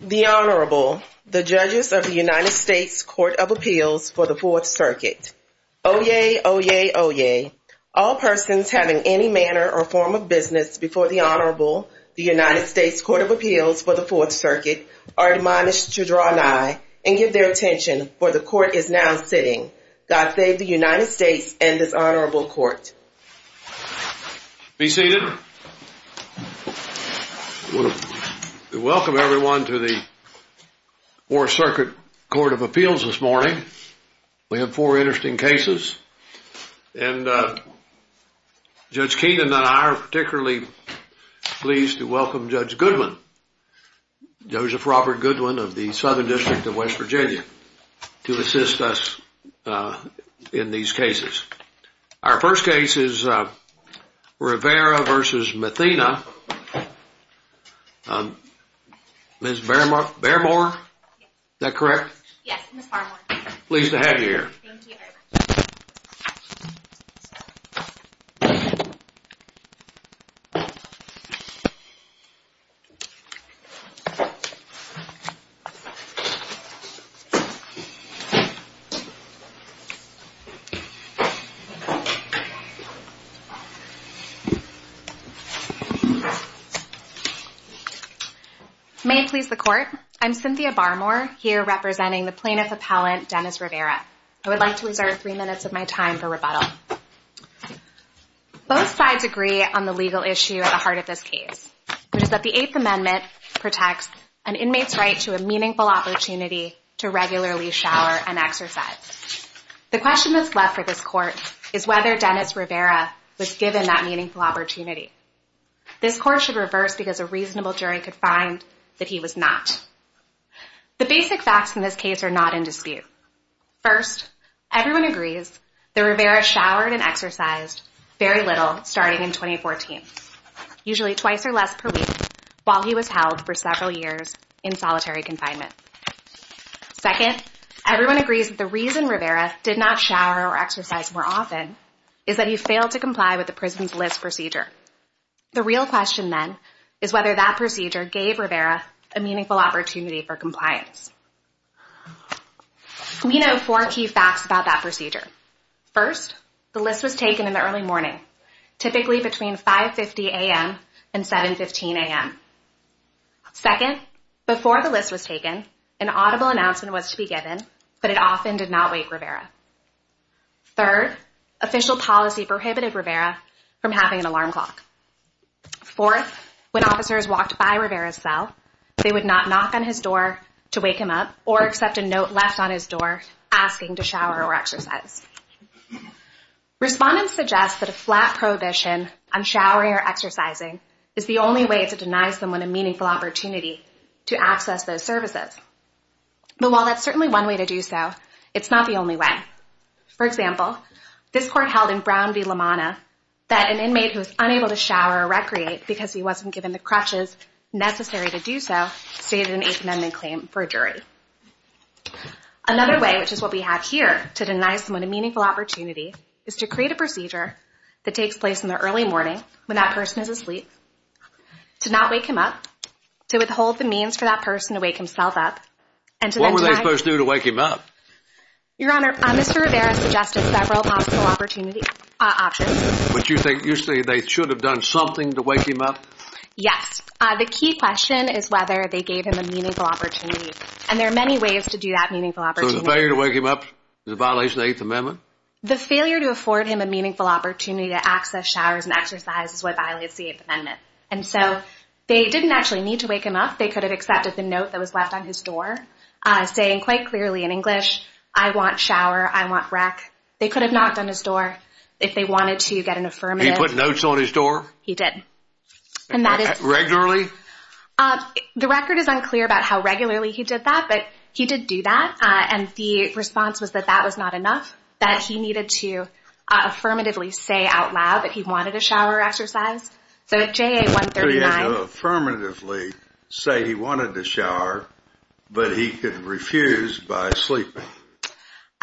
The Honorable, the Judges of the United States Court of Appeals for the Fourth Circuit. Oyez, oyez, oyez. All persons having any manner or form of business before the Honorable, the United States Court of Appeals for the Fourth Circuit, are admonished to draw nigh and give their attention, for the Court is now sitting. God save the United States and His Honorable Court. Be seated. We welcome everyone to the Fourth Circuit Court of Appeals this morning. We have four interesting cases, and Judge Keenan and I are particularly pleased to welcome Judge Goodwin, Joseph Robert Goodwin of the Southern District of West Virginia, to assist us in these cases. Our first case is Rivera v. Mathena. Ms. Bairmore, is that correct? Yes, Ms. Bairmore. Pleased to have you here. Thank you very much. May it please the Court, I'm Cynthia Bairmore, here representing the Plaintiff Appellant, Dennis Rivera. I would like to reserve three minutes of my time for rebuttal. Both sides agree on the legal issue at the heart of this case, which is that the Eighth Amendment protects an inmate's right to a meaningful opportunity to regularly shower and exercise. The question that's left for this Court is whether Dennis Rivera was given that meaningful opportunity. This Court should reverse because a reasonable jury could find that he was not. The basic facts in this case are not in dispute. First, everyone agrees that Rivera showered and exercised starting in 2014, usually twice or less per week while he was held for several years in solitary confinement. Second, everyone agrees that the reason Rivera did not shower or exercise more often is that he failed to comply with the Prison's List procedure. The real question then is whether that procedure gave Rivera a meaningful opportunity for compliance. We typically between 5.50 a.m. and 7.15 a.m. Second, before the list was taken, an audible announcement was to be given, but it often did not wake Rivera. Third, official policy prohibited Rivera from having an alarm clock. Fourth, when officers walked by Rivera's cell, they would not knock on his door to wake him up or accept a note left on his door asking to shower or exercise. Respondents suggest that a flat prohibition on showering or exercising is the only way to deny someone a meaningful opportunity to access those services. But while that's certainly one way to do so, it's not the only way. For example, this Court held in Brown v. LaManna that an inmate who was unable to shower or recreate because he wasn't given the crutches necessary to do so stated an 8th Amendment claim for a jury. Another way, which is what we have here, to deny someone a meaningful opportunity is to create a procedure that takes place in the early morning when that person is asleep, to not wake him up, to withhold the means for that person to wake himself up, and to then deny... What were they supposed to do to wake him up? Your Honor, Mr. Rivera suggested several possible opportunity options. Would you say they should have done something to And there are many ways to do that meaningful opportunity. So the failure to wake him up is a violation of the 8th Amendment? The failure to afford him a meaningful opportunity to access showers and exercises is what violates the 8th Amendment. And so they didn't actually need to wake him up. They could have accepted the note that was left on his door saying quite clearly in English, I want shower, I want rec. They could have knocked on his door if they wanted to get an affirmative. He put notes on his door? He did. And that is... But he did do that, and the response was that that was not enough, that he needed to affirmatively say out loud that he wanted a shower exercise. So at JA139... So he had to affirmatively say he wanted to shower, but he could refuse by sleeping.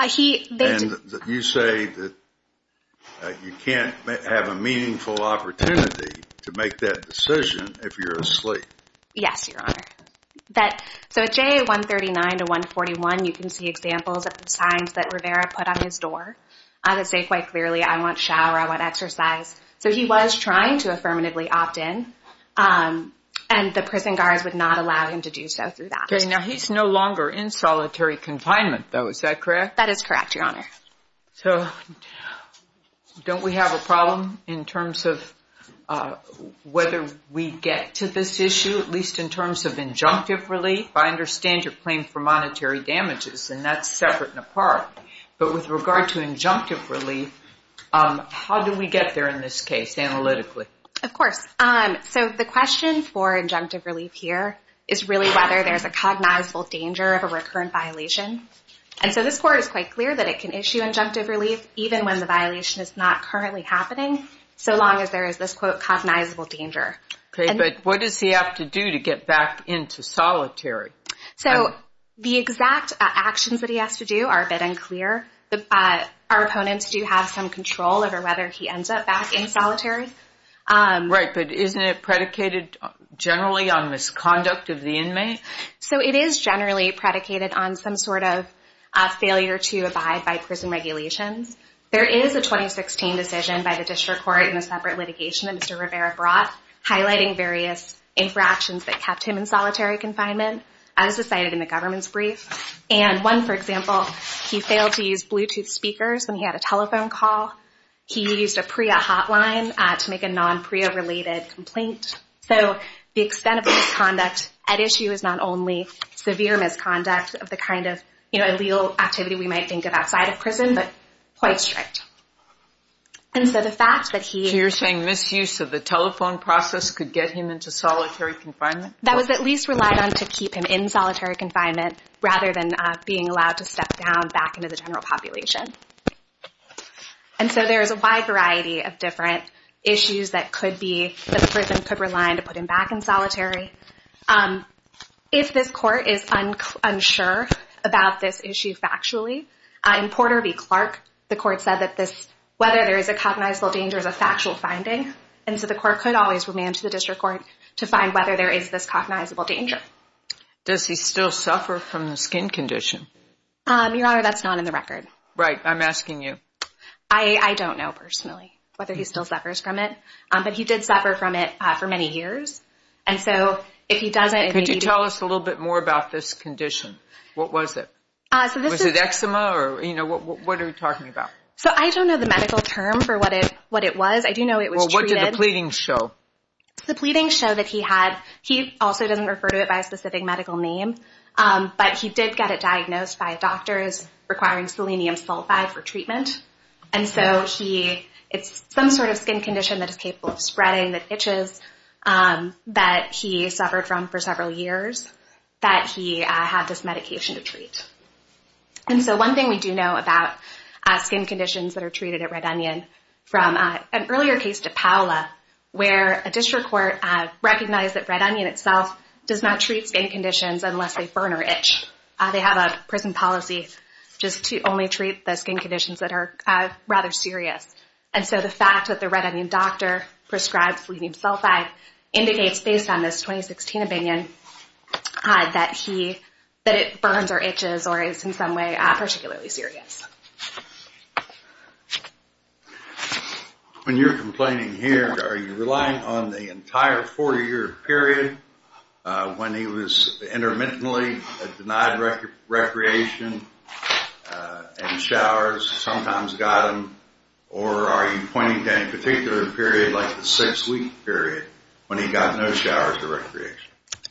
He... And you say that you can't have a meaningful opportunity to make that decision if you're asleep. Yes, Your Honor. So at JA139-141, you can see examples of signs that Rivera put on his door that say quite clearly, I want shower, I want exercise. So he was trying to affirmatively opt in, and the prison guards would not allow him to do so through that. Okay, now he's no longer in solitary confinement, though. Is that correct? That is correct, Your Honor. So don't we have a problem in terms of whether we get to this issue, at least in terms of injunctive relief? I understand your claim for monetary damages, and that's separate and apart. But with regard to injunctive relief, how do we get there in this case, analytically? Of course. So the question for injunctive relief here is really whether there's a cognizable danger of a recurrent violation. And so this court is quite clear that it can issue injunctive relief even when the violation is not currently happening, so long as there is this, quote, cognizable danger. Okay, but what does he have to do to get back into solitary? So the exact actions that he has to do are a bit unclear. Our opponents do have some control over whether he ends up back in solitary. Right, but isn't it predicated generally on misconduct of the inmate? So it is generally predicated on some sort of failure to abide by prison regulations. There is a 2016 decision by the district court in a separate litigation that Mr. Rivera brought highlighting various infractions that kept him in solitary confinement as cited in the government's brief. And one, for example, he failed to use Bluetooth speakers when he had a telephone call. He used a PREA hotline to make a non-PREA-related complaint. So the extent of misconduct at issue is not only severe misconduct of the kind of, you know, illegal activity we might think of outside of prison, but quite strict. So you're saying misuse of the telephone process could get him into solitary confinement? That was at least relied on to keep him in solitary confinement rather than being allowed to step down back into the general population. And so there is a wide variety of different issues that the prison could rely on to put him back in solitary. If this court is unsure about this issue factually, in Porter v. Clark, the court said that whether there is a cognizable danger is a factual finding. And so the court could always remand to the district court to find whether there is this cognizable danger. Does he still suffer from the skin condition? Your Honor, that's not in the record. Right. I'm asking you. I don't know personally whether he still suffers from it. But he did suffer from it for many years. And so if he doesn't... Could you tell us a little bit more about this condition? What was it? Was it eczema or, you know, what are you talking about? So I don't know the medical term for what it was. I do know it was treated. Well, what did the pleadings show? The pleadings show that he also doesn't refer to it by a specific medical name, but he did get it diagnosed by doctors requiring selenium sulfide for treatment. And so it's some sort of skin condition that is capable of spreading the itches that he suffered from for several years that he had this medication to treat. And so one thing we do know about skin conditions that are treated at Red Onion, from an earlier case to Paola, where a district court recognized that Red Onion itself does not treat skin conditions unless they burn or itch. They have a prison policy just to only treat the skin conditions that are rather serious. And so the fact that the Red Onion doctor prescribed selenium sulfide indicates based on this 2016 opinion that it burns or itches or is in some way particularly serious. When you're complaining here, are you relying on the entire 40-year period when he was intermittently denied recreation and showers, sometimes got them? Or are you pointing to any particular period like the six-week period when he got no showers or recreation?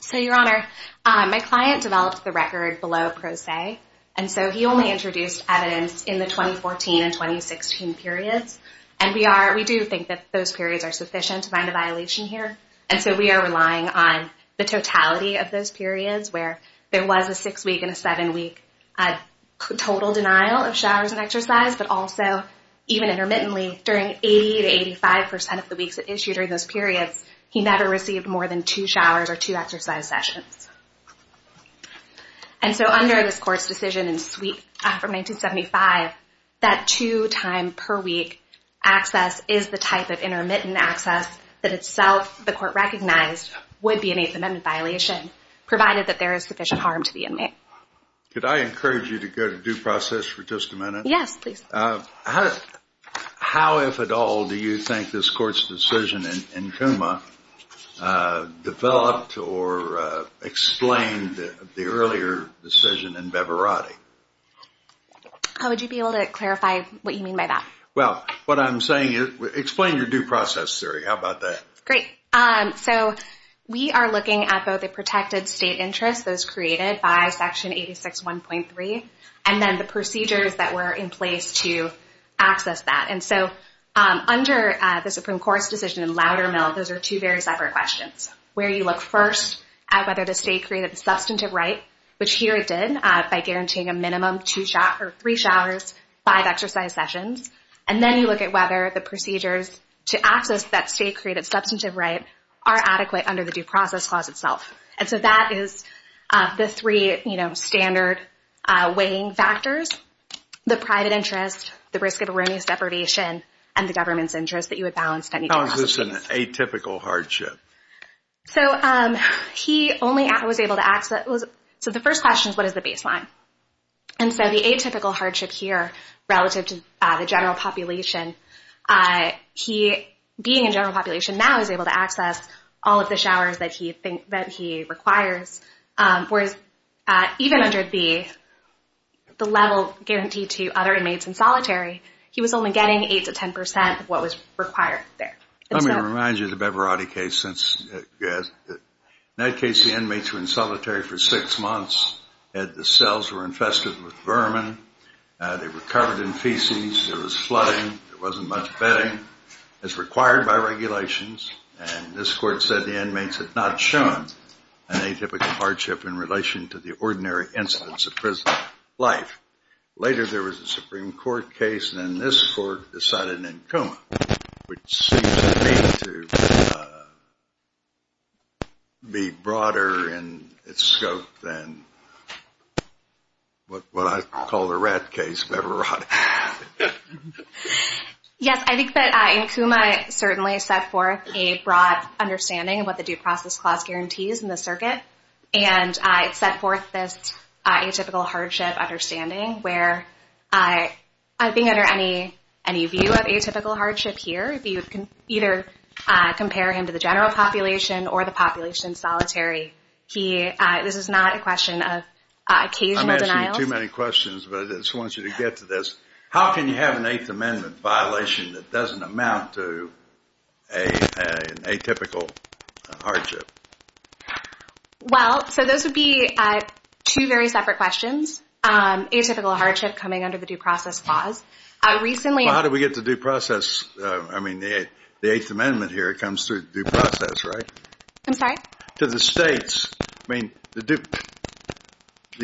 So, Your Honor, my client developed the record below pro se, and so he only introduced evidence in the 2014 and 2016 periods. And we do think that those periods are sufficient to find a violation here. And so we are relying on the totality of those periods where there was a six-week and a seven-week total denial of showers and exercise, but also even intermittently, during 80 to 85 percent of the weeks issued during those periods, he never received more than two showers or two exercise sessions. And so under this Court's decision in Sweet from 1975, that two-time-per-week access is the type of intermittent access that itself the Court recognized would be an Eighth Amendment violation, provided that there is sufficient harm to the inmate. Could I encourage you to go to due process for just a minute? Yes, please. How, if at all, do you think this Court's decision in CUMA developed or explained the earlier decision in Bevarati? How would you be able to clarify what you mean by that? Well, what I'm saying is explain your due process theory. How about that? Great. So we are looking at both the protected state interest, those created by Section 86.1.3, and then the procedures that were in place to access that. And so under the Supreme Court's decision in Loudermill, those are two very separate questions, where you look first at whether the state created a substantive right, which here it did, by guaranteeing a minimum of three showers, five exercise sessions. And then you look at whether the procedures to access that state created substantive right are adequate under the due process clause itself. And so that is the three standard weighing factors, the private interest, the risk of erroneous deprivation, and the government's interest that you would balance. How is this an atypical hardship? So he only was able to access, so the first question is, what is the baseline? And so the atypical hardship here relative to the general population, he, being in general population now, is able to access all of the showers that he requires, whereas even under the level guaranteed to other inmates in solitary, he was only getting 8 to 10 percent of what was required there. In that case, the inmates were in solitary for six months, the cells were infested with vermin, they were covered in feces, there was flooding, there wasn't much bedding as required by regulations, and this court said the inmates had not shown an atypical hardship in relation to the ordinary incidents of prison life. Later there was a Supreme Court case, and then this court decided in Nkuma, which seems to me to be broader in its scope than what I call the rat case of Everotti. Yes, I think that Nkuma certainly set forth a broad understanding of what the Due Process Clause guarantees in the circuit, and it set forth this atypical hardship understanding where, I think under any view of atypical hardship here, you can either compare him to the general population or the population solitary. This is not a question of occasional denial. I'm asking too many questions, but I just wanted you to get to this. How can you have an Eighth Amendment violation that doesn't amount to an atypical hardship? Well, so those would be two very separate questions. Atypical hardship coming under the Due Process Clause. Recently... How do we get the Due Process, I mean the Eighth Amendment here comes through the Due Process, right? I'm sorry? To the states, I mean the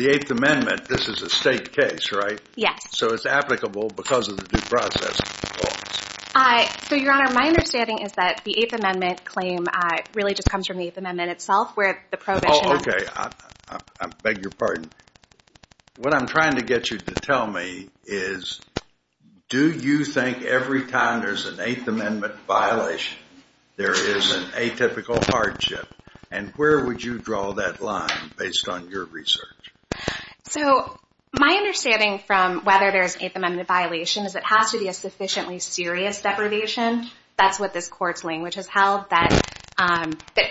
Eighth Amendment, this is a state case, right? Yes. So it's applicable because of the Due Process Clause. So, Your Honor, my understanding is that the Eighth Amendment claim really just comes from the Eighth Amendment itself, where the prohibition... Oh, okay. I beg your pardon. What I'm trying to get you to tell me is, do you think every time there's an Eighth Amendment violation, there is an atypical hardship? And where would you draw that line based on your research? So, my understanding from whether there's an Eighth Amendment violation is that it has to be a sufficiently serious deprivation. That's what this Court's language has held, that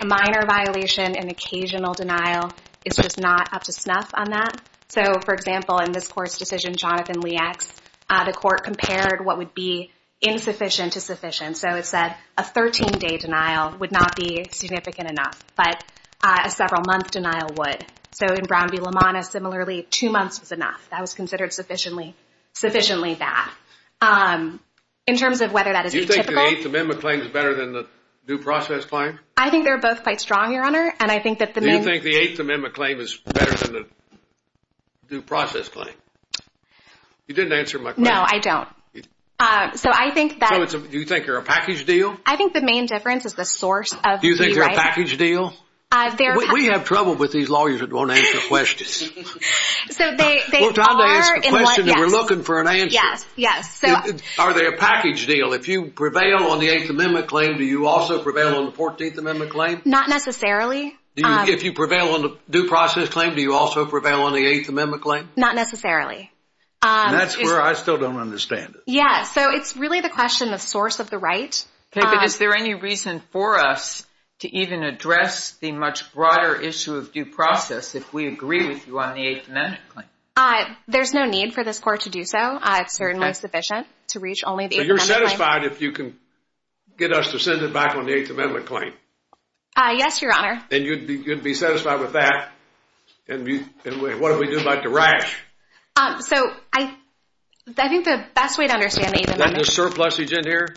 minor violation and occasional denial is just not up to snuff on that. So, for example, in this Court's decision, Jonathan Lee X, the Court compared what would be significant enough, but a several-month denial would. So in Brown v. LaManna, similarly, two months was enough. That was considered sufficiently bad. In terms of whether that is atypical... Do you think the Eighth Amendment claim is better than the Due Process claim? I think they're both quite strong, Your Honor, and I think that the main... Do you think the Eighth Amendment claim is better than the Due Process claim? You didn't answer my question. No, I don't. So, I think that... So, do you think they're a package deal? I think the main difference is the source of the... Do you think they're a package deal? We have trouble with these lawyers that don't answer questions. So, they are... We're trying to ask a question and we're looking for an answer. Yes, yes. Are they a package deal? If you prevail on the Eighth Amendment claim, do you also prevail on the Fourteenth Amendment claim? Not necessarily. If you prevail on the Due Process claim, do you also prevail on the Fourteenth Amendment claim? I don't understand it. Yes, so it's really the question of source of the right. Okay, but is there any reason for us to even address the much broader issue of Due Process if we agree with you on the Eighth Amendment claim? There's no need for this court to do so. It's certainly sufficient to reach only the Eighth Amendment claim. So, you're satisfied if you can get us to send it back on the Eighth Amendment claim? Yes, Your Honor. And you'd be satisfied with that? And what do we do about the rash? So, I think the best way to understand the Eighth Amendment... Is there a surplus agent here?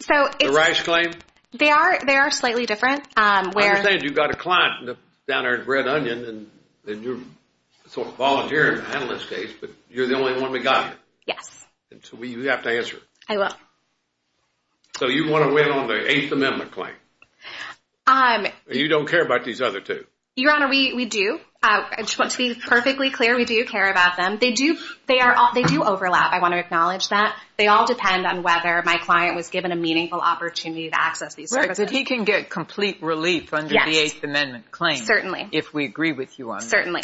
So, it's... The rash claim? They are slightly different. I understand you've got a client down there in Red Onion and you sort of volunteer in an analyst case, but you're the only one we got. Yes. So, you have to answer. I will. So, you want to win on the Eighth Amendment claim? You don't care about these other two? Your Honor, we do. To be perfectly clear, we do care about them. They do overlap. I want to acknowledge that. They all depend on whether my client was given a meaningful opportunity to access these services. He can get complete relief under the Eighth Amendment claim if we agree with you on that. Certainly.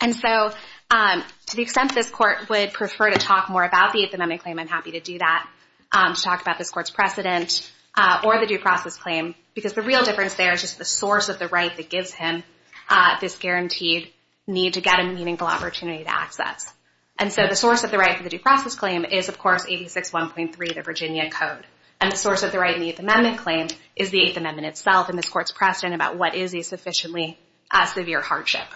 And so, to the extent this court would prefer to talk more about the Eighth Amendment claim, I'm happy to do that, to talk about this court's precedent, or the due process claim, because the real difference there is just the source of the right that gives him this guaranteed need to get a meaningful opportunity to access. And so, the source of the right for the due process claim is, of course, 861.3, the Virginia Code. And the source of the right in the Eighth Amendment claim is the Eighth Amendment itself and this court's precedent about what is a sufficiently severe hardship.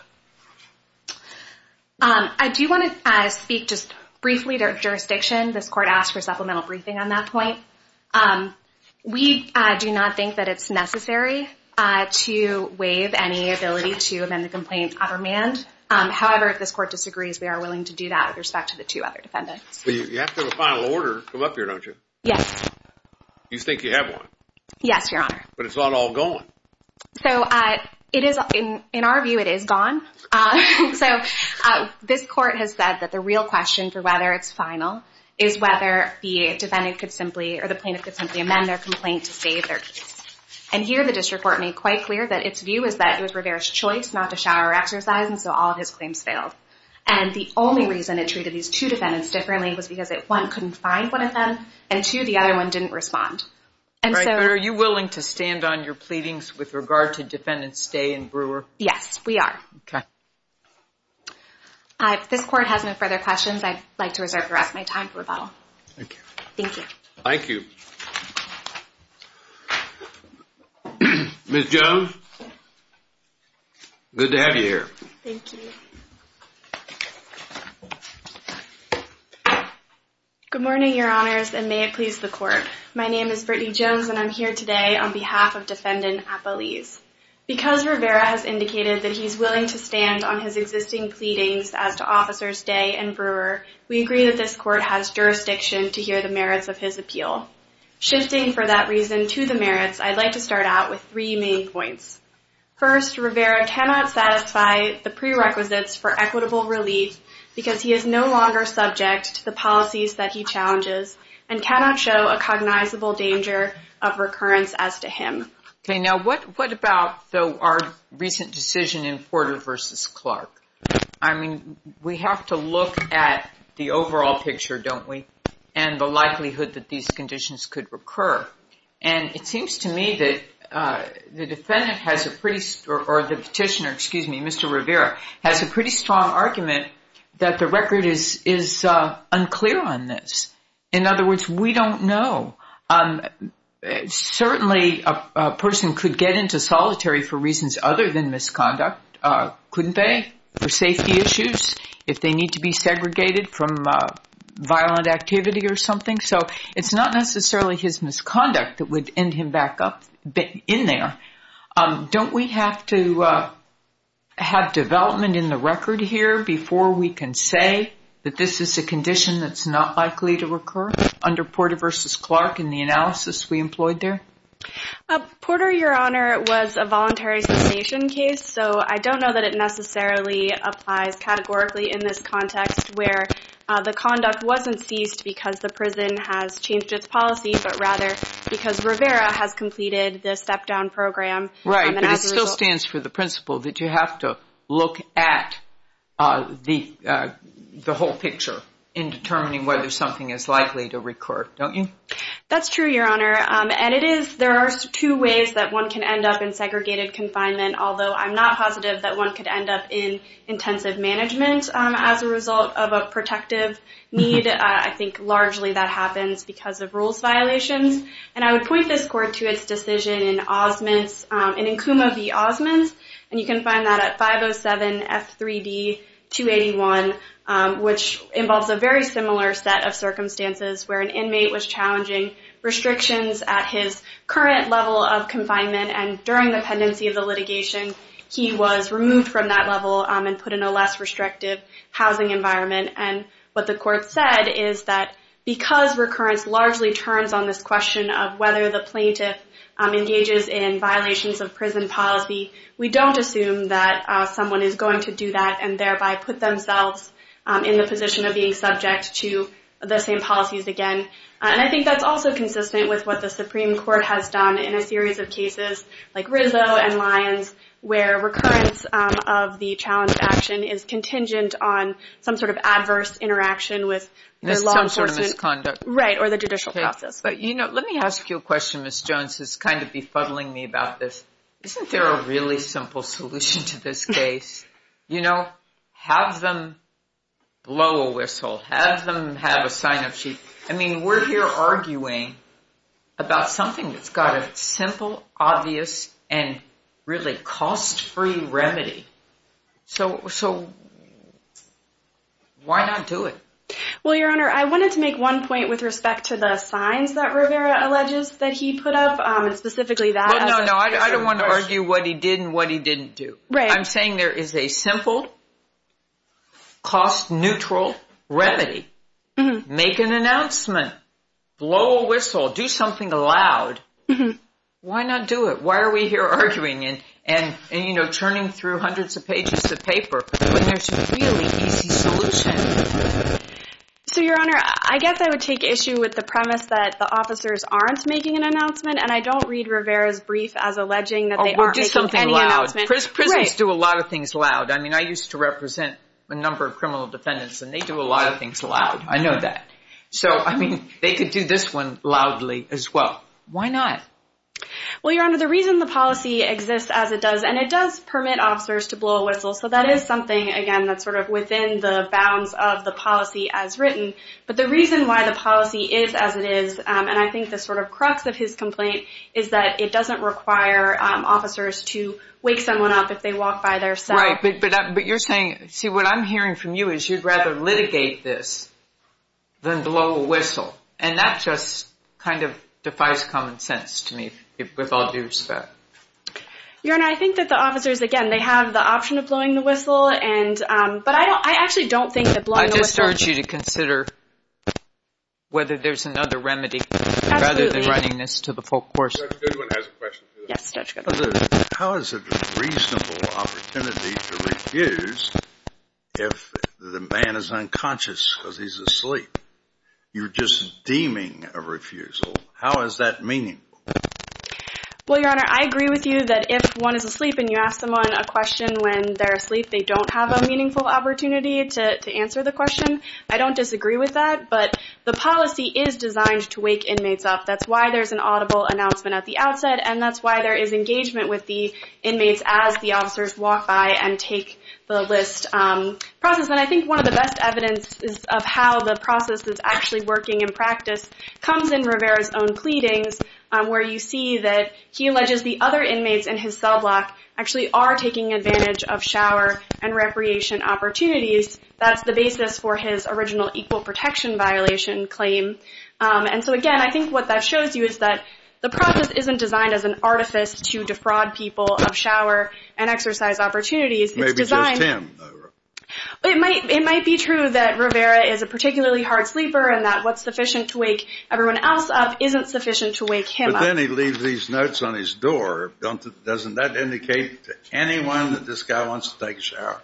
I do want to speak just briefly to our jurisdiction. This court asked for supplemental briefing on that point. We do not think that it's necessary to waive any ability to amend the complaint out of command. However, if this court disagrees, we are willing to do that with respect to the two other defendants. You have to have a final order come up here, don't you? Yes. You think you have one? Yes, Your Honor. But it's not all gone. So, it is, in our view, it is gone. So, this court has said that the real question for whether it's final is whether the defendant could simply, or the plaintiff could simply amend their complaint to save their case. And here, the district court made quite clear that its view is that it was Rivera's choice not to shower or exercise, and so all of his claims failed. And the only reason it treated these two defendants differently was because one couldn't find one of them, and two, the other one didn't respond. Are you willing to stand on your pleadings with regard to Defendant Stay and Brewer? Yes, we are. If this court has no further questions, I'd like to reserve the rest of my time for rebuttal. Thank you. Ms. Jones, good to have you here. Thank you. Good morning, Your Honors, and may it please the Court. My name is Brittany Jones, and I'm here today on behalf of Defendant Apeliz. Because Rivera has indicated that he's willing to stand on his existing pleadings as to Officers Stay and Brewer, we agree that this court has jurisdiction to hear the merits of his appeal. Shifting, for that reason, to the merits, I'd like to start out with three main points. First, Rivera cannot satisfy the prerequisites for equitable relief because he is no longer subject to the policies that he challenges and cannot show a cognizable danger of recurrence as to him. Okay, now what about, though, our recent decision in Porter v. Clark? I mean, we have to look at the overall picture, don't we, and the likelihood that these conditions could recur. And it seems to me that the Petitioner, Mr. Rivera, has a pretty strong argument that the record is unclear on this. In other words, we don't know. Certainly a person could get into solitary for reasons other than misconduct, couldn't they, for safety issues, if they need to be segregated from violent activity or something. So it's not necessarily his misconduct that would end him back up in there. Don't we have to have development in the record here before we can say that this is a condition that's not likely to recur under Porter v. Clark and the analysis we employed there? Porter, Your Honor, was a voluntary cessation case, so I don't know that it necessarily applies categorically in this context where the conduct wasn't ceased because the prison has changed its policy, but rather because Rivera has completed the step-down program. Right, but it still stands for the principle that you have to look at the whole picture in determining whether something is likely to recur, don't you? That's true, Your Honor, and there are two ways that one can end up in segregated confinement, although I'm not positive that one could end up in intensive management as a result of a protective need. I think largely that happens because of rules violations, and I would point this Court to its decision in Encuma v. Osmunds, and you can find that at 507 F3D 281, which involves a very similar set of circumstances where an inmate was challenging restrictions at his current level of confinement, and during the pendency of the litigation, he was removed from that level and put in a less restrictive housing environment, and what the Court said is that because recurrence largely turns on this question of whether the plaintiff engages in violations of prison policy, we don't assume that someone is going to do that and thereby put themselves in the position of being subject to the same policies again, and I think that's also consistent with what the Supreme Court has done in a series of cases like Rizzo and Lyons, where recurrence of the challenge of action is contingent on some sort of adverse interaction with the law enforcement. Some sort of misconduct. Right, or the judicial process. Let me ask you a question, Ms. Jones, that's kind of befuddling me about this. Isn't there a really simple solution to this case? Have them blow a whistle. Have them have a sign-up sheet. I mean, we're here arguing about something that's got a simple, obvious, and really cost-free remedy. So, why not do it? Well, Your Honor, I wanted to make one point with respect to the signs that Rivera alleges that he put up, and specifically that. No, no, I don't want to argue what he did and what he didn't do. I'm saying there is a simple, cost-neutral remedy. Make an announcement. Blow a whistle. Do something loud. Why not do it? Why are we here arguing and, you know, churning through hundreds of pages of paper when there's a really easy solution? So, Your Honor, I guess I would take issue with the premise that the officers aren't making an announcement, and I don't read Rivera's brief as alleging that they aren't making any announcement. Oh, we'll do something loud. Prisons do a lot of things loud. I mean, I used to represent a number of criminal defendants, and they do a lot of things loud. I know that. So, I mean, they could do this one loudly as well. Why not? Well, Your Honor, the reason the policy exists as it does, and it does permit officers to blow a whistle, so that is something, again, that's sort of within the bounds of the policy as written. But the reason why the policy is as it is, and I think the sort of crux of his complaint, is that it doesn't require officers to wake someone up if they walk by their cell. Right, but you're saying, see, what I'm hearing from you is you'd rather litigate this than blow a whistle, and that just kind of defies common sense to me, with all due respect. Your Honor, I think that the officers, again, they have the option of blowing the whistle, but I actually don't think that blowing the whistle. Let me start you to consider whether there's another remedy rather than running this to the full course. Judge Goodwin has a question for you. How is it a reasonable opportunity to refuse if the man is unconscious because he's asleep? You're just deeming a refusal. How is that meaningful? Well, Your Honor, I agree with you that if one is asleep and you ask someone a question when they're asleep, they don't have a meaningful opportunity to answer the question. I don't disagree with that, but the policy is designed to wake inmates up. That's why there's an audible announcement at the outset, and that's why there is engagement with the inmates as the officers walk by and take the list process. And I think one of the best evidence of how the process is actually working in practice comes in Rivera's own pleadings, where you see that he alleges the other inmates in his cell block actually are taking advantage of shower and recreation opportunities. That's the basis for his original equal protection violation claim. And so, again, I think what that shows you is that the process isn't designed as an artifice to defraud people of shower and exercise opportunities. Maybe just him. It might be true that Rivera is a particularly hard sleeper and that what's sufficient to wake everyone else up isn't sufficient to wake him up. But then he leaves these notes on his door. Doesn't that indicate to anyone that this guy wants to take a shower?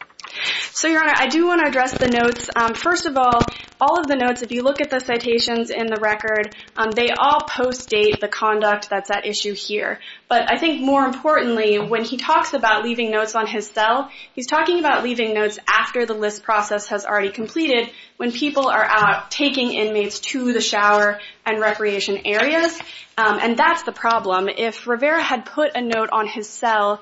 So, Your Honor, I do want to address the notes. First of all, all of the notes, if you look at the citations in the record, they all post-date the conduct that's at issue here. But I think more importantly, when he talks about leaving notes on his cell, he's talking about leaving notes after the list process has already completed when people are out taking inmates to the shower and recreation areas. And that's the problem. If Rivera had put a note on his cell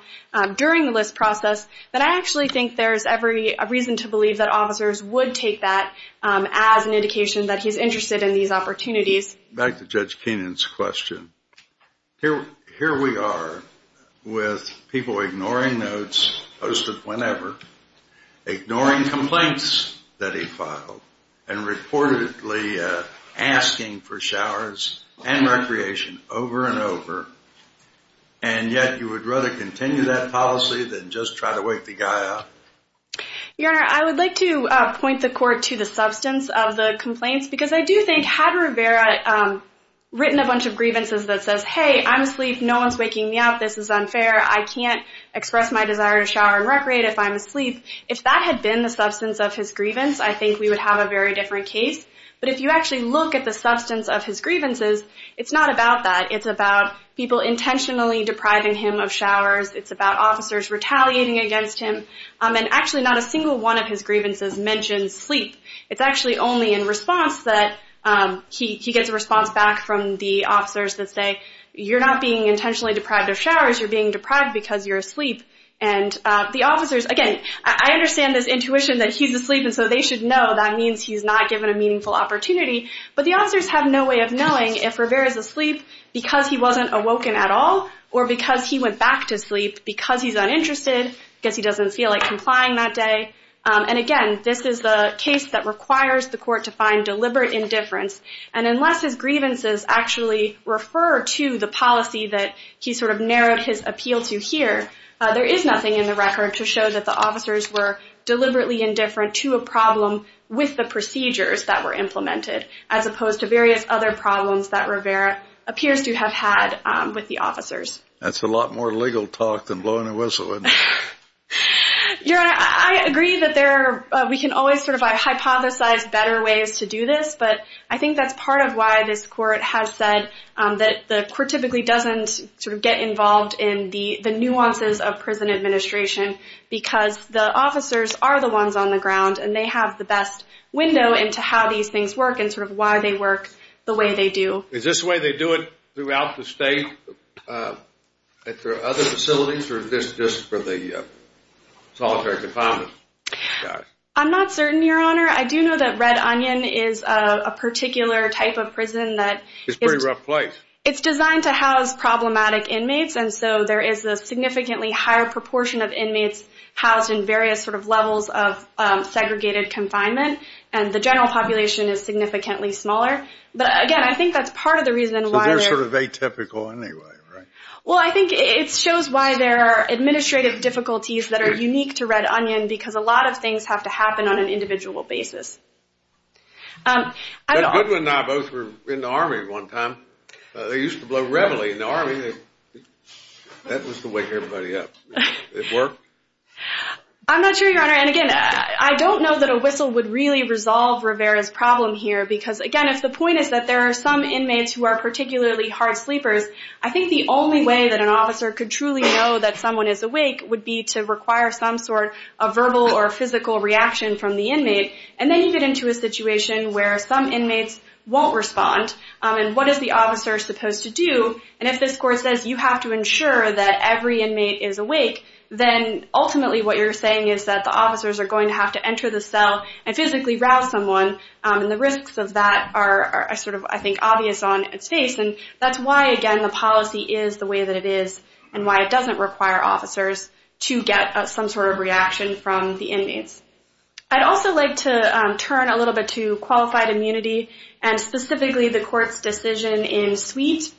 during the list process, then I actually think there's every reason to believe that officers would take that as an indication that he's interested in these opportunities. Back to Judge Keenan's question. Here we are with people ignoring notes posted whenever, ignoring complaints that he filed, and reportedly asking for showers and recreation over and over. And yet you would rather continue that policy than just try to wake the guy up? Your Honor, I would like to point the Court to the substance of the complaints, because I do think had Rivera written a bunch of grievances that says, hey, I'm asleep, no one's waking me up, this is unfair, I can't express my desire to shower and recreate if I'm asleep, if that had been the substance of his grievance, I think we would have a very different case. But if you actually look at the substance of his grievances, it's not about that. It's about people intentionally depriving him of showers. It's about officers retaliating against him. And actually not a single one of his grievances mentions sleep. It's actually only in response that he gets a response back from the officers that say, you're not being intentionally deprived of showers, you're being deprived because you're asleep. And the officers, again, I understand this intuition that he's asleep and so they should know, that means he's not given a meaningful opportunity, but the officers have no way of knowing if Rivera's asleep because he wasn't awoken at all or because he went back to sleep because he's uninterested, because he doesn't feel like complying that day. And again, this is a case that requires the court to find deliberate indifference. And unless his grievances actually refer to the policy that he sort of narrowed his appeal to here, there is nothing in the record to show that the officers were deliberately indifferent to a problem with the procedures that were implemented, as opposed to various other problems that Rivera appears to have had with the officers. That's a lot more legal talk than blowing a whistle, isn't it? Your Honor, I agree that we can always sort of hypothesize better ways to do this, but I think that's part of why this court has said that the court typically doesn't sort of get involved in the nuances of prison administration because the officers are the ones on the ground and they have the best window into how these things work and sort of why they work the way they do. Is this the way they do it throughout the state at their other facilities or is this just for the solitary confinement? I'm not certain, Your Honor. I do know that Red Onion is a particular type of prison. It's a pretty rough place. It's designed to house problematic inmates, and so there is a significantly higher proportion of inmates housed in various sort of levels of segregated confinement, and the general population is significantly smaller. But again, I think that's part of the reason why they're— So they're sort of atypical anyway, right? Well, I think it shows why there are administrative difficulties that are unique to Red Onion because a lot of things have to happen on an individual basis. Goodwin and I both were in the Army one time. They used to blow reveille in the Army. That was to wake everybody up. It worked? I'm not sure, Your Honor. And again, I don't know that a whistle would really resolve Rivera's problem here because, again, if the point is that there are some inmates who are particularly hard sleepers, I think the only way that an officer could truly know that someone is awake would be to require some sort of verbal or physical reaction from the inmate, and then you get into a situation where some inmates won't respond, and what is the officer supposed to do? And if this court says you have to ensure that every inmate is awake, then ultimately what you're saying is that the officers are going to have to enter the cell and physically rouse someone, and the risks of that are sort of, I think, obvious on its face, and that's why, again, the policy is the way that it is and why it doesn't require officers to get some sort of reaction from the inmates. I'd also like to turn a little bit to qualified immunity and specifically the court's decision in Sweet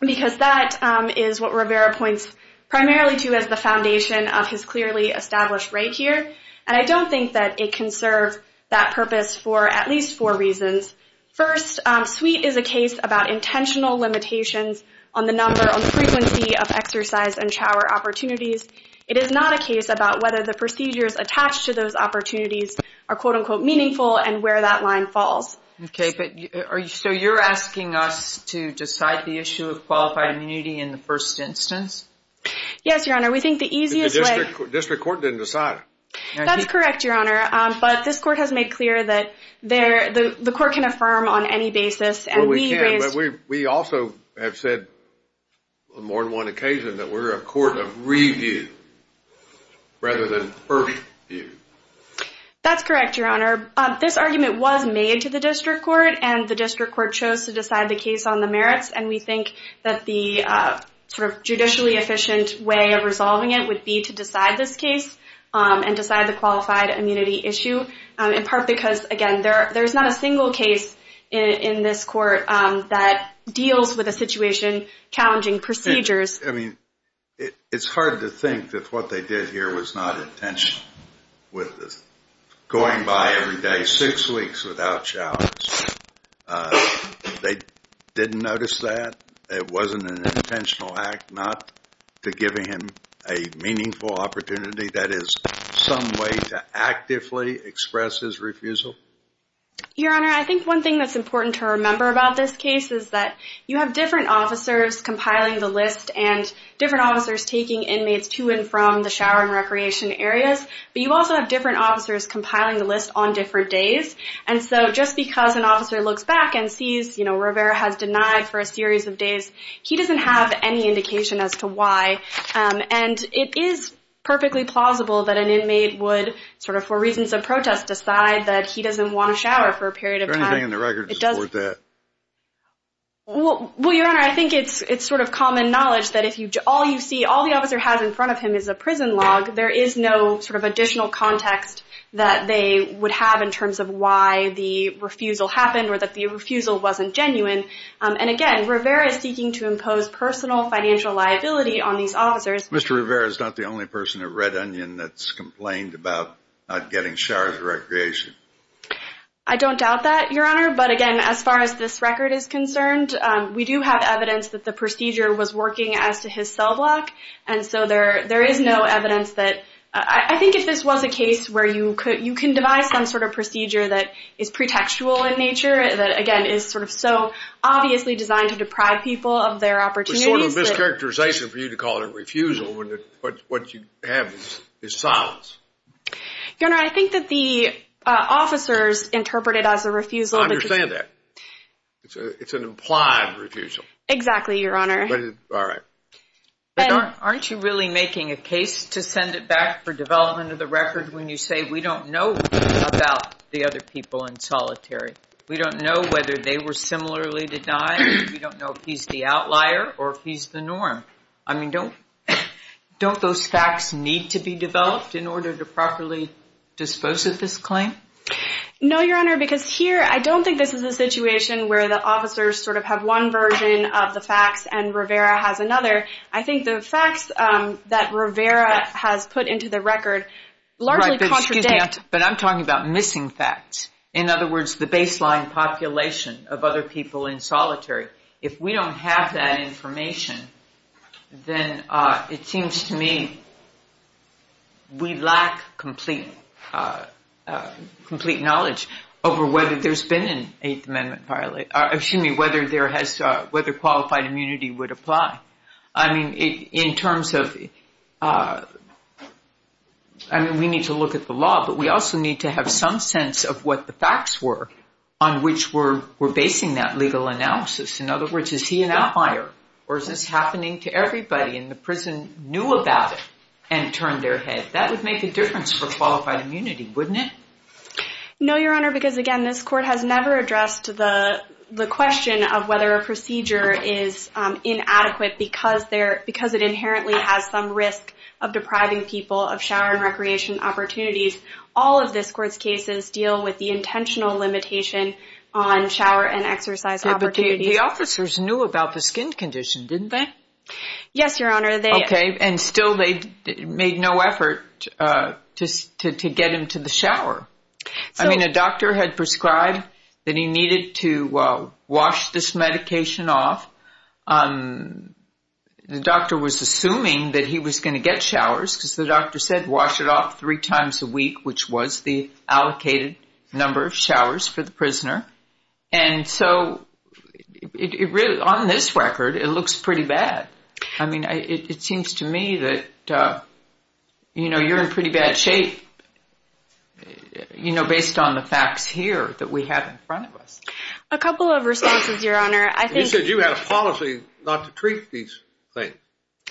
because that is what Rivera points primarily to as the foundation of his clearly established right here, and I don't think that it can serve that purpose for at least four reasons. First, Sweet is a case about intentional limitations on the number and frequency of exercise and shower opportunities. It is not a case about whether the procedures attached to those opportunities are, quote-unquote, meaningful and where that line falls. Okay, so you're asking us to decide the issue of qualified immunity in the first instance? Yes, Your Honor. We think the easiest way— The district court didn't decide it. That's correct, Your Honor, but this court has made clear that the court can affirm on any basis, and we raised— Well, we can, but we also have said on more than one occasion that we're a court of review rather than first view. That's correct, Your Honor. This argument was made to the district court, and the district court chose to decide the case on the merits, and we think that the sort of judicially efficient way of resolving it would be to decide this case and decide the qualified immunity issue, in part because, again, there's not a single case in this court that deals with a situation challenging procedures. I mean, it's hard to think that what they did here was not intentional. Going by every day six weeks without showers, they didn't notice that? It wasn't an intentional act not to give him a meaningful opportunity? That is some way to actively express his refusal? Your Honor, I think one thing that's important to remember about this case is that you have different officers compiling the list and different officers taking inmates to and from the shower and recreation areas, but you also have different officers compiling the list on different days. And so just because an officer looks back and sees, you know, Rivera has denied for a series of days, he doesn't have any indication as to why. And it is perfectly plausible that an inmate would sort of, for reasons of protest, decide that he doesn't want to shower for a period of time. Is there anything in the record to support that? Well, Your Honor, I think it's sort of common knowledge that if all you see, all the officer has in front of him is a prison log, there is no sort of additional context that they would have in terms of why the refusal happened or that the refusal wasn't genuine. And again, Rivera is seeking to impose personal financial liability on these officers. Mr. Rivera is not the only person at Red Onion that's complained about not getting showers or recreation. I don't doubt that, Your Honor. But again, as far as this record is concerned, we do have evidence that the procedure was working as to his cell block. And so there is no evidence that – I think if this was a case where you could – you can devise some sort of procedure that is pretextual in nature, that, again, is sort of so obviously designed to deprive people of their opportunities. But sort of a mischaracterization for you to call it a refusal when what you have is silence. Your Honor, I think that the officers interpret it as a refusal. I understand that. It's an implied refusal. Exactly, Your Honor. All right. But aren't you really making a case to send it back for development of the record when you say we don't know about the other people in solitary? We don't know whether they were similarly denied. We don't know if he's the outlier or if he's the norm. I mean, don't those facts need to be developed in order to properly dispose of this claim? No, Your Honor, because here I don't think this is a situation where the officers sort of have one version of the facts and Rivera has another. I think the facts that Rivera has put into the record largely contradict. But I'm talking about missing facts. In other words, the baseline population of other people in solitary. If we don't have that information, then it seems to me we lack complete knowledge over whether there's been an Eighth Amendment violation, excuse me, whether qualified immunity would apply. I mean, in terms of, I mean, we need to look at the law, but we also need to have some sense of what the facts were on which we're basing that legal analysis. In other words, is he an outlier or is this happening to everybody and the prison knew about it and turned their head? That would make a difference for qualified immunity, wouldn't it? No, Your Honor, because again, this court has never addressed the question of whether a procedure is inadequate because it inherently has some risk of depriving people of shower and recreation opportunities. All of this court's cases deal with the intentional limitation on shower and exercise opportunities. The officers knew about the skin condition, didn't they? Yes, Your Honor. Okay, and still they made no effort to get him to the shower. I mean, a doctor had prescribed that he needed to wash this medication off. The doctor was assuming that he was going to get showers because the doctor said wash it off three times a week, which was the allocated number of showers for the prisoner. And so it really, on this record, it looks pretty bad. I mean, it seems to me that, you know, you're in pretty bad shape, you know, based on the facts here that we have in front of us. A couple of responses, Your Honor. You said you had a policy not to treat these things,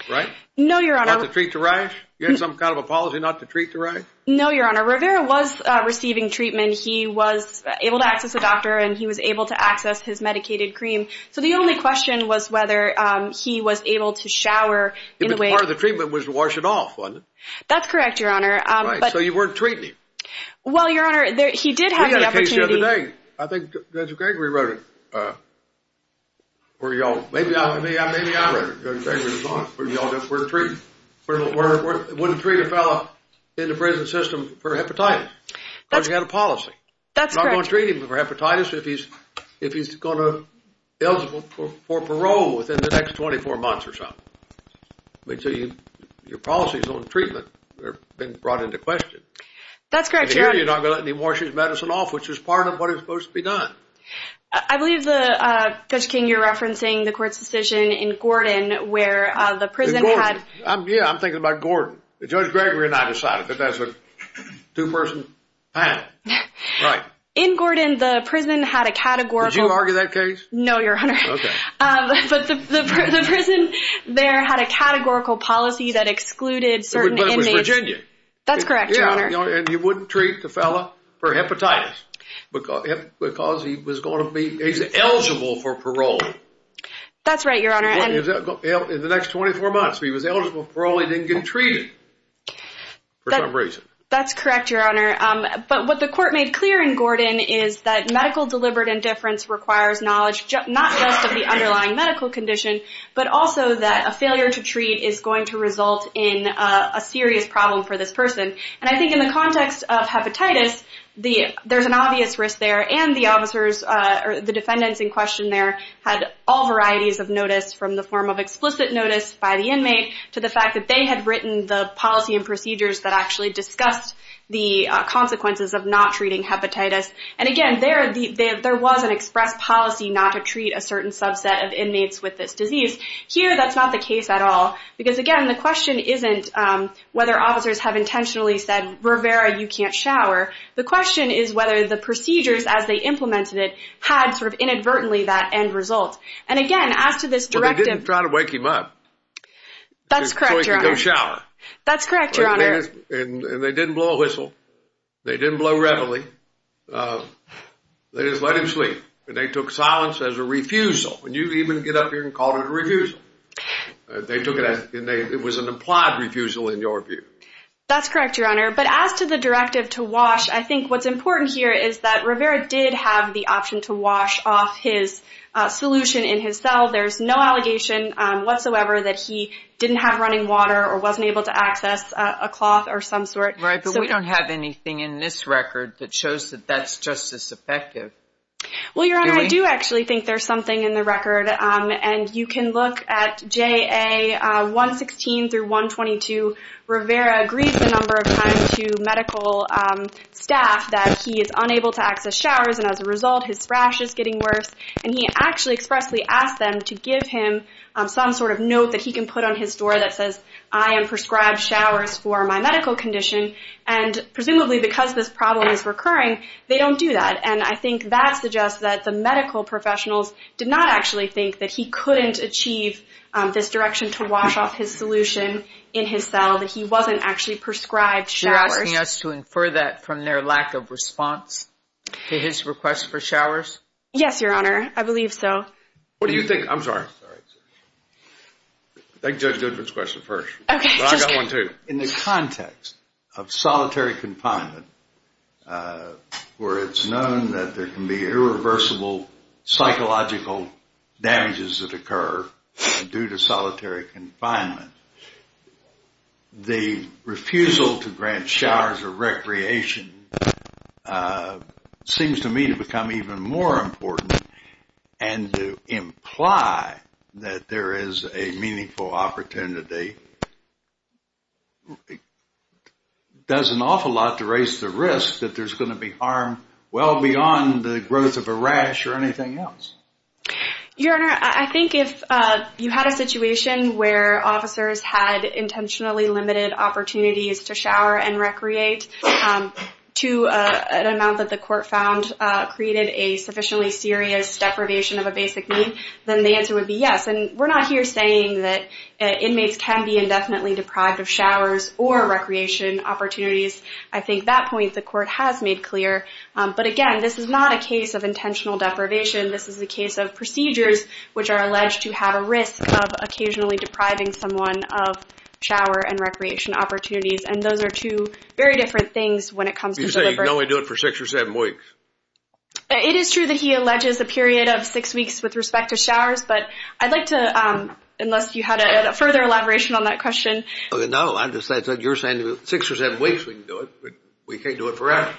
right? No, Your Honor. Not to treat the rash? You had some kind of a policy not to treat the rash? No, Your Honor. Rivera was receiving treatment. He was able to access a doctor, and he was able to access his medicated cream. So the only question was whether he was able to shower in a way— Part of the treatment was to wash it off, wasn't it? That's correct, Your Honor. Right, so you weren't treating him. Well, Your Honor, he did have the opportunity— I think Judge Gregory wrote it. Maybe I wrote it. Judge Gregory was on it. It wouldn't treat a fellow in the prison system for hepatitis because he had a policy. That's correct. You're not going to treat him for hepatitis if he's going to be eligible for parole within the next 24 months or so. That's correct, Your Honor. No, you're not going to let him wash his medicine off, which is part of what is supposed to be done. I believe, Judge King, you're referencing the court's decision in Gordon where the prison had— Yeah, I'm thinking about Gordon. Judge Gregory and I decided that that's a two-person panel. Right. In Gordon, the prison had a categorical— Did you argue that case? No, Your Honor. Okay. But the prison there had a categorical policy that excluded certain inmates— But it was Virginia. That's correct, Your Honor. And you wouldn't treat the fellow for hepatitis because he was going to be—he's eligible for parole. That's right, Your Honor. In the next 24 months. If he was eligible for parole, he didn't get treated for some reason. That's correct, Your Honor. But what the court made clear in Gordon is that medical deliberate indifference requires knowledge, not just of the underlying medical condition, but also that a failure to treat is going to result in a serious problem for this person. And I think in the context of hepatitis, there's an obvious risk there. And the officers—the defendants in question there had all varieties of notice, from the form of explicit notice by the inmate to the fact that they had written the policy and procedures that actually discussed the consequences of not treating hepatitis. And, again, there was an express policy not to treat a certain subset of inmates with this disease. Here, that's not the case at all. Because, again, the question isn't whether officers have intentionally said, Rivera, you can't shower. The question is whether the procedures as they implemented it had sort of inadvertently that end result. And, again, as to this directive— Well, they didn't try to wake him up. That's correct, Your Honor. So he could go shower. That's correct, Your Honor. And they didn't blow a whistle. They didn't blow readily. They just let him sleep. And they took silence as a refusal. And you even get up here and called it a refusal. It was an implied refusal in your view. That's correct, Your Honor. But as to the directive to wash, I think what's important here is that Rivera did have the option to wash off his solution in his cell. There's no allegation whatsoever that he didn't have running water or wasn't able to access a cloth or some sort. Right, but we don't have anything in this record that shows that that's just as effective. Well, Your Honor, I do actually think there's something in the record. And you can look at JA 116 through 122. Rivera agrees a number of times to medical staff that he is unable to access showers. And as a result, his thrash is getting worse. And he actually expressly asked them to give him some sort of note that he can put on his door that says, I am prescribed showers for my medical condition. And presumably because this problem is recurring, they don't do that. And I think that suggests that the medical professionals did not actually think that he couldn't achieve this direction to wash off his solution in his cell, that he wasn't actually prescribed showers. You're asking us to infer that from their lack of response to his request for showers? Yes, Your Honor. I believe so. What do you think? I'm sorry. I think Judge Goodman's question first. Okay. In the context of solitary confinement where it's known that there can be irreversible psychological damages that occur due to solitary confinement, the refusal to grant showers or recreation seems to me to become even more important and to imply that there is a meaningful opportunity does an awful lot to raise the risk that there's going to be harm well beyond the growth of a rash or anything else. Your Honor, I think if you had a situation where officers had intentionally limited opportunities to shower and recreate to an amount that the court found created a sufficiently serious deprivation of a basic need, then the answer would be yes. And we're not here saying that inmates can be indefinitely deprived of showers or recreation opportunities. I think that point the court has made clear. But again, this is not a case of intentional deprivation. This is a case of procedures which are alleged to have a risk of occasionally depriving someone of shower and recreation opportunities. And those are two very different things when it comes to delivery. You say you can only do it for six or seven weeks. It is true that he alleges a period of six weeks with respect to showers. But I'd like to, unless you had a further elaboration on that question. No. I just thought you were saying six or seven weeks we can do it, but we can't do it forever.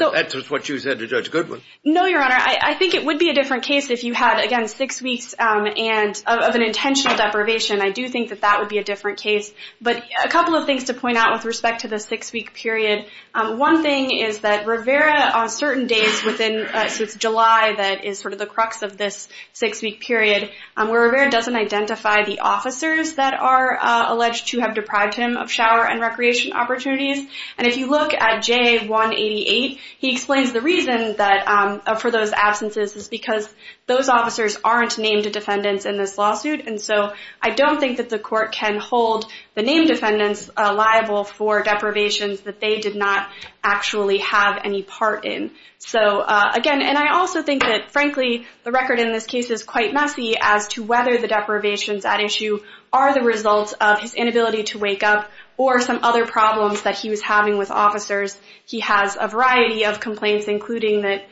That's what you said to Judge Goodman. No, Your Honor. I think it would be a different case if you had, again, six weeks of an intentional deprivation. I do think that that would be a different case. But a couple of things to point out with respect to the six-week period. One thing is that Rivera on certain days within, so it's July that is sort of the crux of this six-week period, where Rivera doesn't identify the officers that are alleged to have deprived him of shower and recreation opportunities. And if you look at J188, he explains the reason for those absences is because those officers aren't named defendants in this lawsuit. And so I don't think that the court can hold the named defendants liable for deprivations that they did not actually have any part in. So, again, and I also think that, frankly, the record in this case is quite messy as to whether the deprivations at issue are the result of his inability to wake up or some other problems that he was having with officers. He has a variety of complaints, including that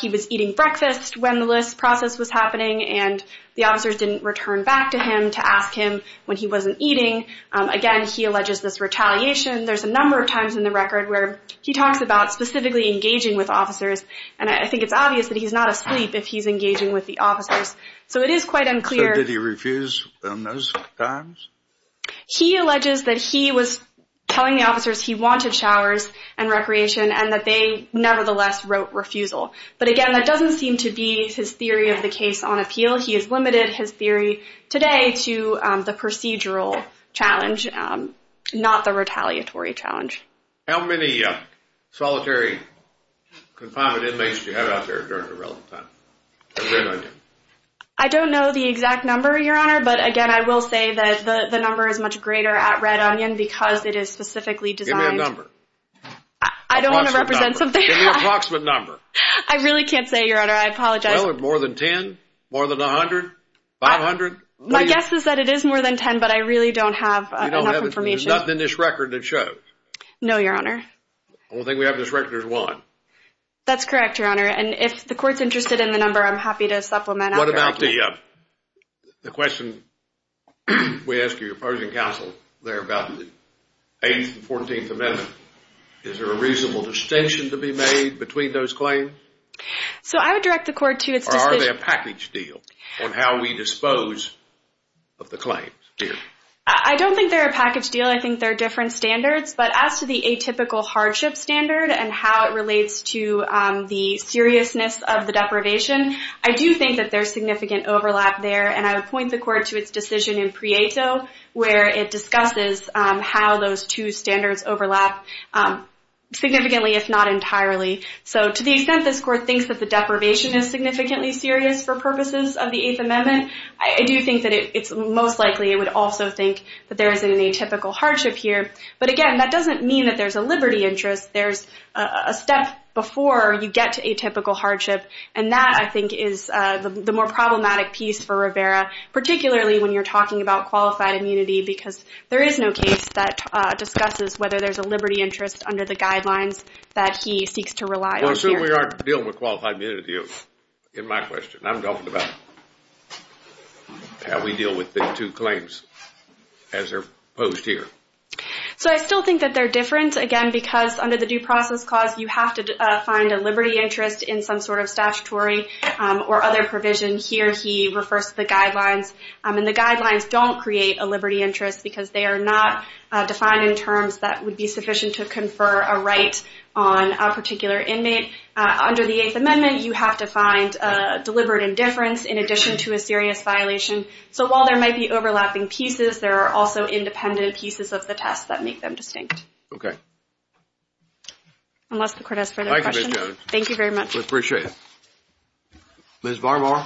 he was eating breakfast when this process was happening and the officers didn't return back to him to ask him when he wasn't eating. Again, he alleges this retaliation. There's a number of times in the record where he talks about specifically engaging with officers, and I think it's obvious that he's not asleep if he's engaging with the officers. So it is quite unclear. So did he refuse on those times? He alleges that he was telling the officers he wanted showers and recreation and that they nevertheless wrote refusal. But, again, that doesn't seem to be his theory of the case on appeal. He has limited his theory today to the procedural challenge, not the retaliatory challenge. How many solitary confinement inmates did you have out there during the relevant time? I don't know the answer, but, again, I will say that the number is much greater at Red Onion because it is specifically designed. Give me a number. I don't want to represent something. Give me an approximate number. I really can't say, Your Honor. I apologize. More than 10? More than 100? 500? My guess is that it is more than 10, but I really don't have enough information. There's nothing in this record that shows? No, Your Honor. The only thing we have in this record is one. That's correct, Your Honor. And if the court's interested in the number, I'm happy to supplement. What about the question we asked your opposing counsel there about the 8th and 14th Amendment? Is there a reasonable distinction to be made between those claims? So I would direct the court to its decision. Or are they a package deal on how we dispose of the claims here? I don't think they're a package deal. I think they're different standards. But as to the atypical hardship standard and how it relates to the seriousness of the deprivation, I do think that there's significant overlap there. And I would point the court to its decision in Prieto where it discusses how those two standards overlap significantly, if not entirely. So to the extent this court thinks that the deprivation is significantly serious for purposes of the 8th Amendment, I do think that it's most likely it would also think that there is an atypical hardship here. But, again, that doesn't mean that there's a liberty interest. There's a step before you get to atypical hardship. And that, I think, is the more problematic piece for Rivera, particularly when you're talking about qualified immunity, because there is no case that discusses whether there's a liberty interest under the guidelines that he seeks to rely on here. Well, assuming we aren't dealing with qualified immunity in my question, I'm talking about how we deal with the two claims as they're posed here. So I still think that they're different, again, because under the due process clause, you have to find a liberty interest in some sort of statutory or other provision. Here he refers to the guidelines, and the guidelines don't create a liberty interest because they are not defined in terms that would be sufficient to confer a right on a particular inmate. Under the 8th Amendment, you have to find deliberate indifference in addition to a serious violation. So while there might be overlapping pieces, there are also independent pieces of the test that make them distinct. Okay. Unless the court has further questions. Thank you, Ms. Jones. Thank you very much. We appreciate it. Ms. Varmar.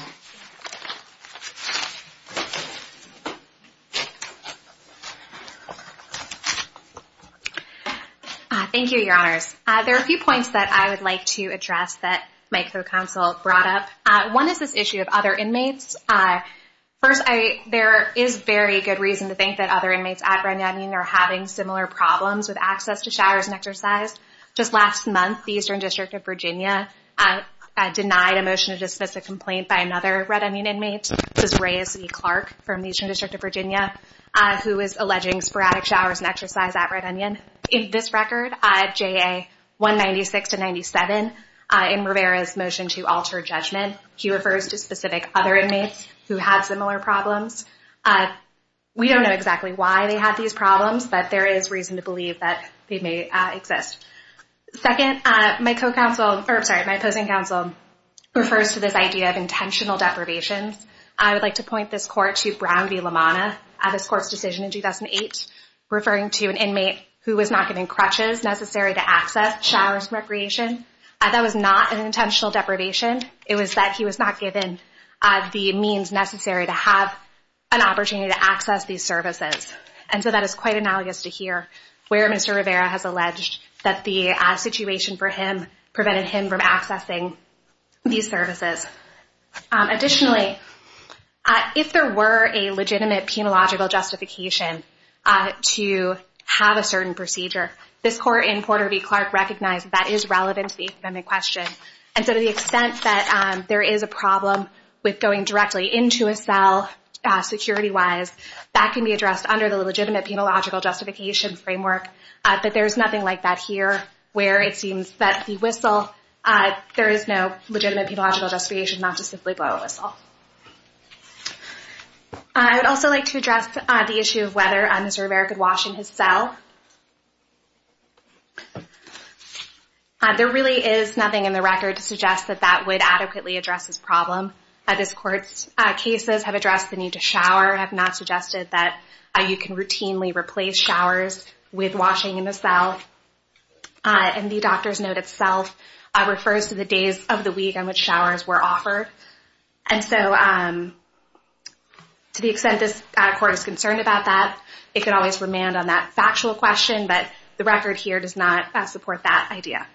Thank you, Your Honors. There are a few points that I would like to address that my co-counsel brought up. One is this issue of other inmates. First, there is very good reason to think that other inmates at Red Onion are having similar problems with access to showers and exercise. Just last month, the Eastern District of Virginia denied a motion to dismiss a complaint by another Red Onion inmate, which is Reyes E. Clark from the Eastern District of Virginia, who is alleging sporadic showers and exercise at Red Onion. In this record, JA 196-97, in Rivera's motion to alter judgment, he refers to specific other inmates who had similar problems. We don't know exactly why they had these problems, but there is reason to believe that they may exist. Second, my co-counsel, or sorry, my opposing counsel, refers to this idea of intentional deprivations. I would like to point this court to Brown v. LaManna, this court's decision in 2008, referring to an inmate who was not getting crutches necessary to access showers and recreation. That was not an intentional deprivation. It was that he was not given the means necessary to have an opportunity to access these services. And so that is quite analogous to here, where Mr. Rivera has alleged that the situation for him prevented him from accessing these services. Additionally, if there were a legitimate penological justification to have a certain procedure, this court in Porter v. Clark recognized that is relevant to the epidemic question. And so to the extent that there is a problem with going directly into a cell security-wise, that can be addressed under the legitimate penological justification framework. But there is nothing like that here, where it seems that the whistle, there is no legitimate penological justification not to simply blow a whistle. I would also like to address the issue of whether Mr. Rivera could wash in his cell. There really is nothing in the record to suggest that that would adequately address this problem. This court's cases have addressed the need to shower, have not suggested that you can routinely replace showers with washing in the cell. And the doctor's note itself refers to the days of the week on which showers were offered. And so to the extent this court is concerned about that, it could always remand on that factual question. But the record here does not support that idea.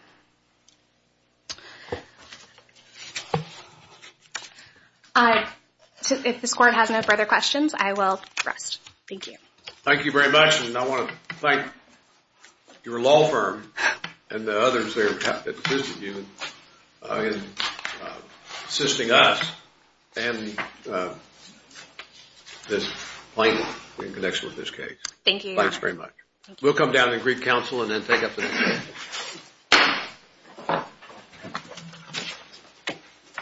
If this court has no further questions, I will rest. Thank you. Thank you very much. And I want to thank your law firm and the others there that visited you in assisting us and this plaintiff in connection with this case. Thank you. Thanks very much. We'll come down to Greek Council and then take up the debate.